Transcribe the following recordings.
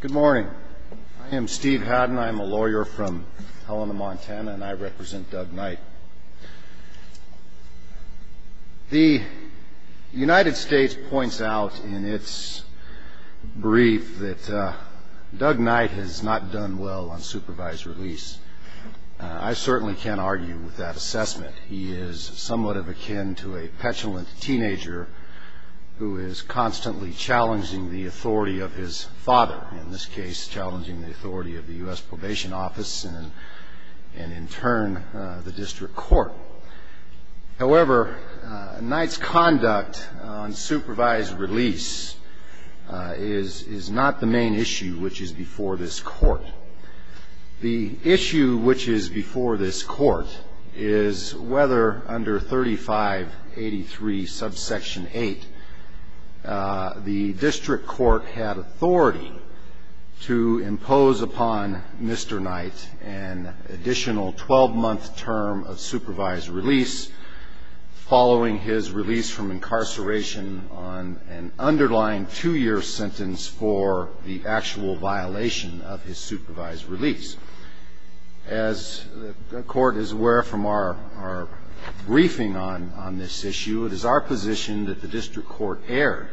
Good morning. I am Steve Haddon. I'm a lawyer from Helena, Montana, and I represent Doug Knight. The United States points out in its brief that Doug Knight has not done well on supervised release. I certainly can't argue with that assessment. He is somewhat of akin to a petulant teenager who is constantly challenging the authority of his father, in this case challenging the authority of the U.S. Probation Office and in turn the district court. However, Knight's conduct on supervised release is not the main issue which is before this court. The issue which is before this court is whether under 3583 subsection 8, the district court had authority to impose upon Mr. Knight an additional 12-month term of supervised release following his release from incarceration on an underlying two-year sentence for the actual violation of his supervised release. As the court is aware from our briefing on this issue, it is our position that the district court erred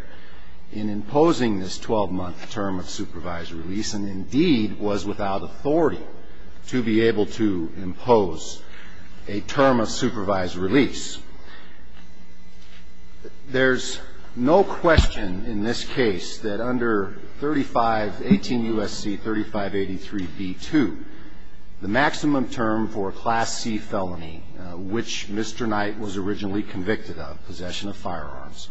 in imposing this 12-month term of supervised release and indeed was without authority to be able to impose a term of supervised release. There's no question in this case that under 18 U.S.C. 3583b2, the maximum term for a Class C felony, which Mr. Knight was originally convicted of, possession of firearms,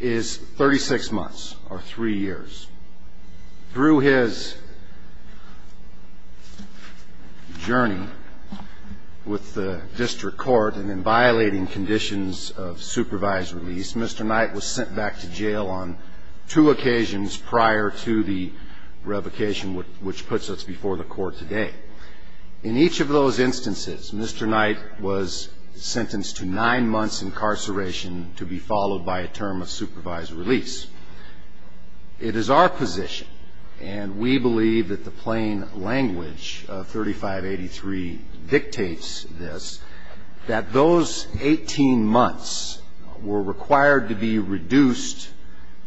is 36 months or three years. Through his journey with the district court and in violating conditions of supervised release, Mr. Knight was sent back to jail on two occasions prior to the revocation which puts us before the court today. In each of those instances, Mr. Knight was sentenced to nine months incarceration to be followed by a term of supervised release. It is our position, and we believe that the plain language of 3583 dictates this, that those 18 months were required to be reduced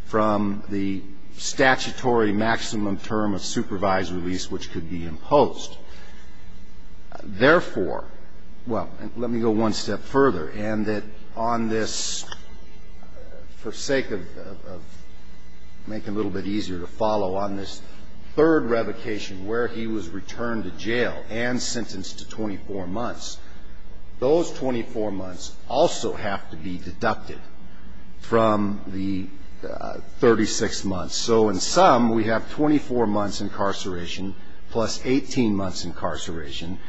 from the statutory maximum term of supervised release which could be imposed. Therefore, well, let me go one step further, and that on this, for sake of making it a little bit easier to follow, on this third revocation where he was returned to jail and sentenced to 24 months, those 24 months also have to be deducted from the 36 months. So in sum, we have 24 months incarceration plus 18 months incarceration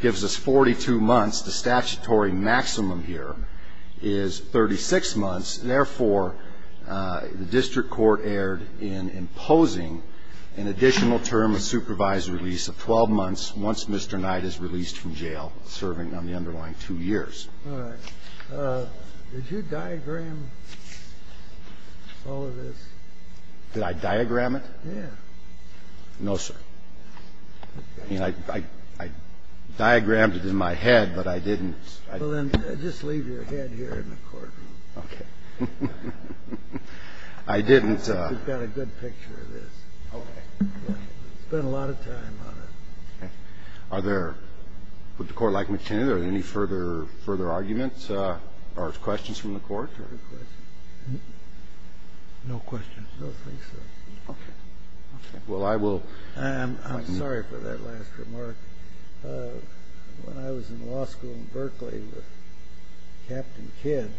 gives us 42 months. The statutory maximum here is 36 months. Therefore, the district court erred in imposing an additional term of supervised release of 12 months once Mr. Knight is released from jail serving on the underlying two years. All right. Did you diagram all of this? Did I diagram it? Yes. No, sir. I mean, I diagrammed it in my head, but I didn't. Well, then just leave your head here in the courtroom. Okay. I didn't. We've got a good picture of this. Okay. We spent a lot of time on it. Okay. Would the court like me to continue? Are there any further arguments or questions from the court? No questions. No questions? No, please, sir. Okay. Okay. Well, I will. I'm sorry for that last remark. When I was in law school in Berkeley with Captain Kidd,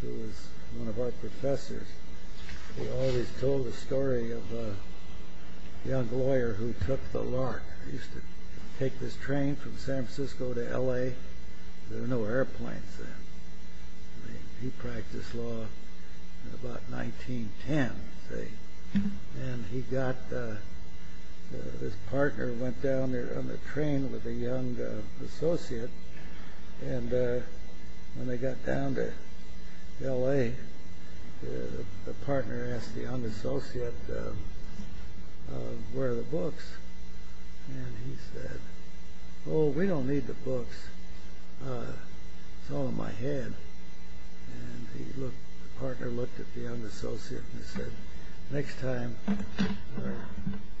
who was one of our professors, he always told the story of a young lawyer who took the LARC. He used to take this train from San Francisco to L.A. There were no airplanes then. I mean, he practiced law in about 1910, say. And he got this partner who went down there on the train with a young associate. And when they got down to L.A., the partner asked the young associate, Where are the books? And he said, Oh, we don't need the books. It's all in my head. And the partner looked at the young associate and said, Next time,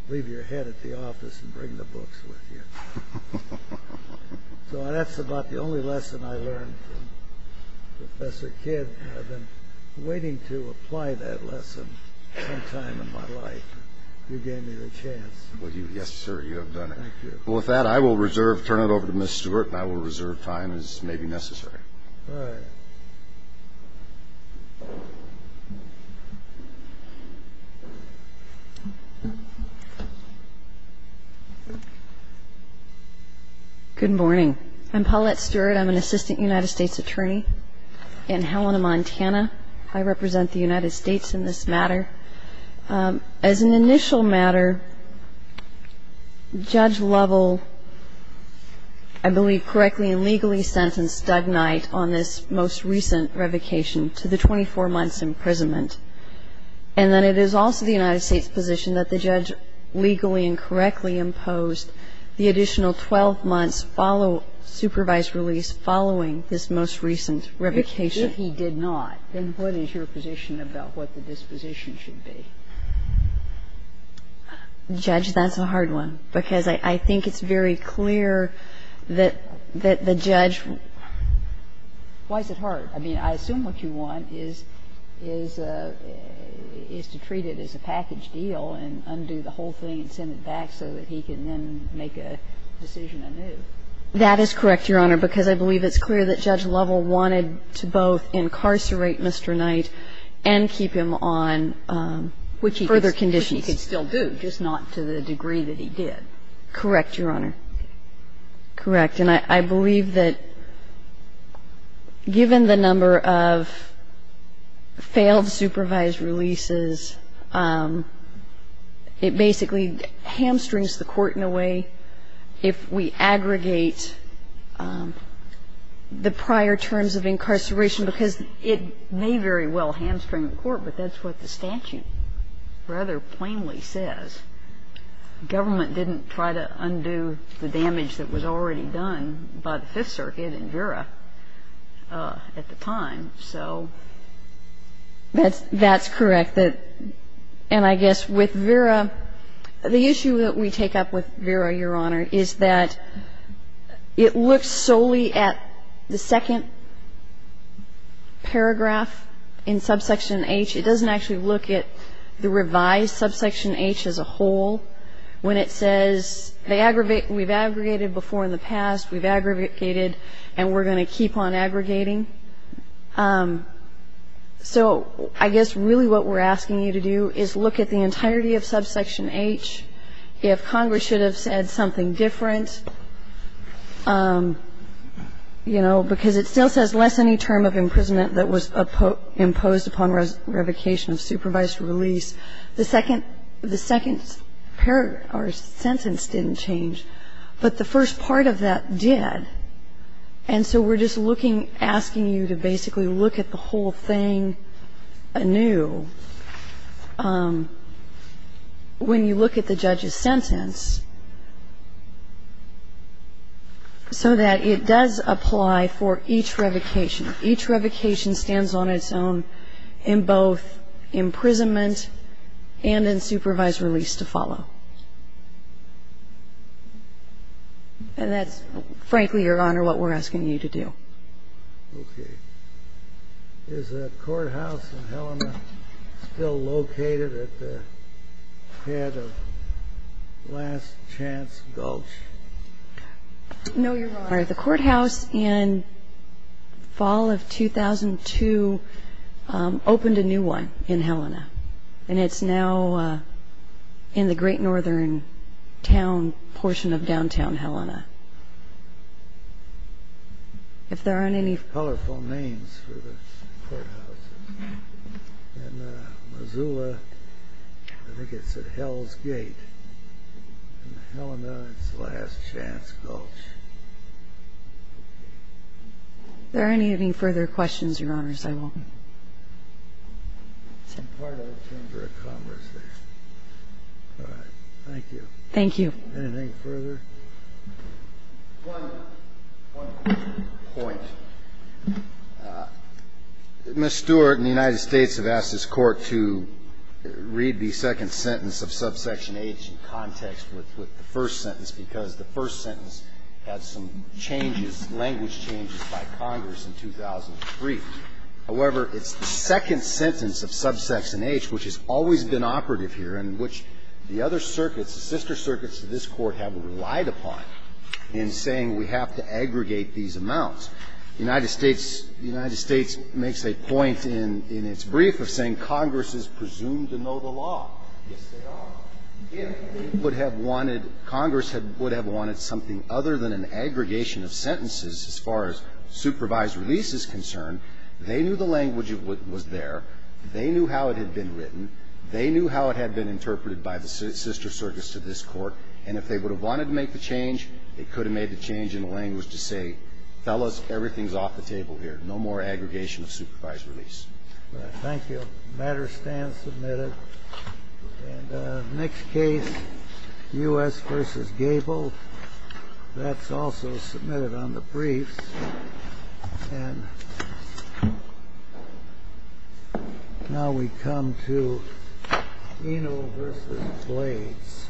leave your head at the office and bring the books with you. So that's about the only lesson I learned from Professor Kidd. I've been waiting to apply that lesson sometime in my life. You gave me the chance. Yes, sir, you have done it. Thank you. Well, with that, I will turn it over to Ms. Stewart, and I will reserve time as may be necessary. All right. Good morning. I'm Paulette Stewart. I'm an assistant United States attorney in Helena, Montana. I represent the United States in this matter. As an initial matter, Judge Lovell, I believe, correctly and legally sentenced Doug Knight on this most recent revocation to the 24 months' imprisonment. And then it is also the United States' position that the judge legally and correctly imposed the additional 12 months' supervised release following this most recent revocation. If he did not, then what is your position about what the disposition should be? Judge, that's a hard one, because I think it's very clear that the judge ---- Why is it hard? I mean, I assume what you want is to treat it as a package deal and undo the whole thing and send it back so that he can then make a decision anew. That is correct, Your Honor, because I believe it's clear that Judge Lovell wanted to both incarcerate Mr. Knight and keep him on further conditions. Which he could still do, just not to the degree that he did. Correct, Your Honor. Okay. Correct. Well, I think that's a good question. I believe that given the number of failed supervised releases, it basically hamstrings the court in a way if we aggregate the prior terms of incarceration because it may very well hamstring the court, but that's what the statute rather than undo the damage that was already done by the Fifth Circuit in Vera at the time. So ---- That's correct. And I guess with Vera, the issue that we take up with Vera, Your Honor, is that it looks solely at the second paragraph in subsection H. It doesn't actually look at the revised subsection H as a whole. When it says we've aggregated before in the past, we've aggregated, and we're going to keep on aggregating. So I guess really what we're asking you to do is look at the entirety of subsection H. If Congress should have said something different, you know, because it still says less any term of imprisonment that was imposed upon revocation of supervised release, the second paragraph or sentence didn't change, but the first part of that did. And so we're just looking, asking you to basically look at the whole thing anew when you look at the judge's sentence so that it does apply for each revocation. Each revocation stands on its own in both imprisonment and in supervised release to follow. And that's, frankly, Your Honor, what we're asking you to do. OK. Is the courthouse in Helena still located at the head of Last Chance Gulch? No, Your Honor. The courthouse in fall of 2002 opened a new one in Helena, and it's now in the great northern town portion of downtown Helena. If there aren't any... Colorful names for the courthouses. In Missoula, I think it's at Hell's Gate. In Helena, it's Last Chance Gulch. If there aren't any further questions, Your Honors, I will... I'm part of the Chamber of Commerce there. All right. Thank you. Thank you. Anything further? One point. Ms. Stewart and the United States have asked this Court to read the second sentence of subsection H in context with the first sentence, because the first sentence had some changes, language changes, by Congress in 2003. However, it's the second sentence of subsection H, which has always been operative here and which the other circuits, the sister circuits to this Court have relied upon in saying we have to aggregate these amounts. The United States makes a point in its brief of saying Congress is presumed to know the law. Yes, they are. If they would have wanted, Congress would have wanted something other than an aggregation of sentences as far as supervised release is concerned, they knew the language of what was there. They knew how it had been written. They knew how it had been interpreted by the sister circuits to this Court. And if they would have wanted to make the change, they could have made the change in the language to say, fellas, everything is off the table here. No more aggregation of supervised release. Thank you. The matter stands submitted. And the next case, U.S. v. Gable, that's also submitted on the briefs. And now we come to Eno v. Blades.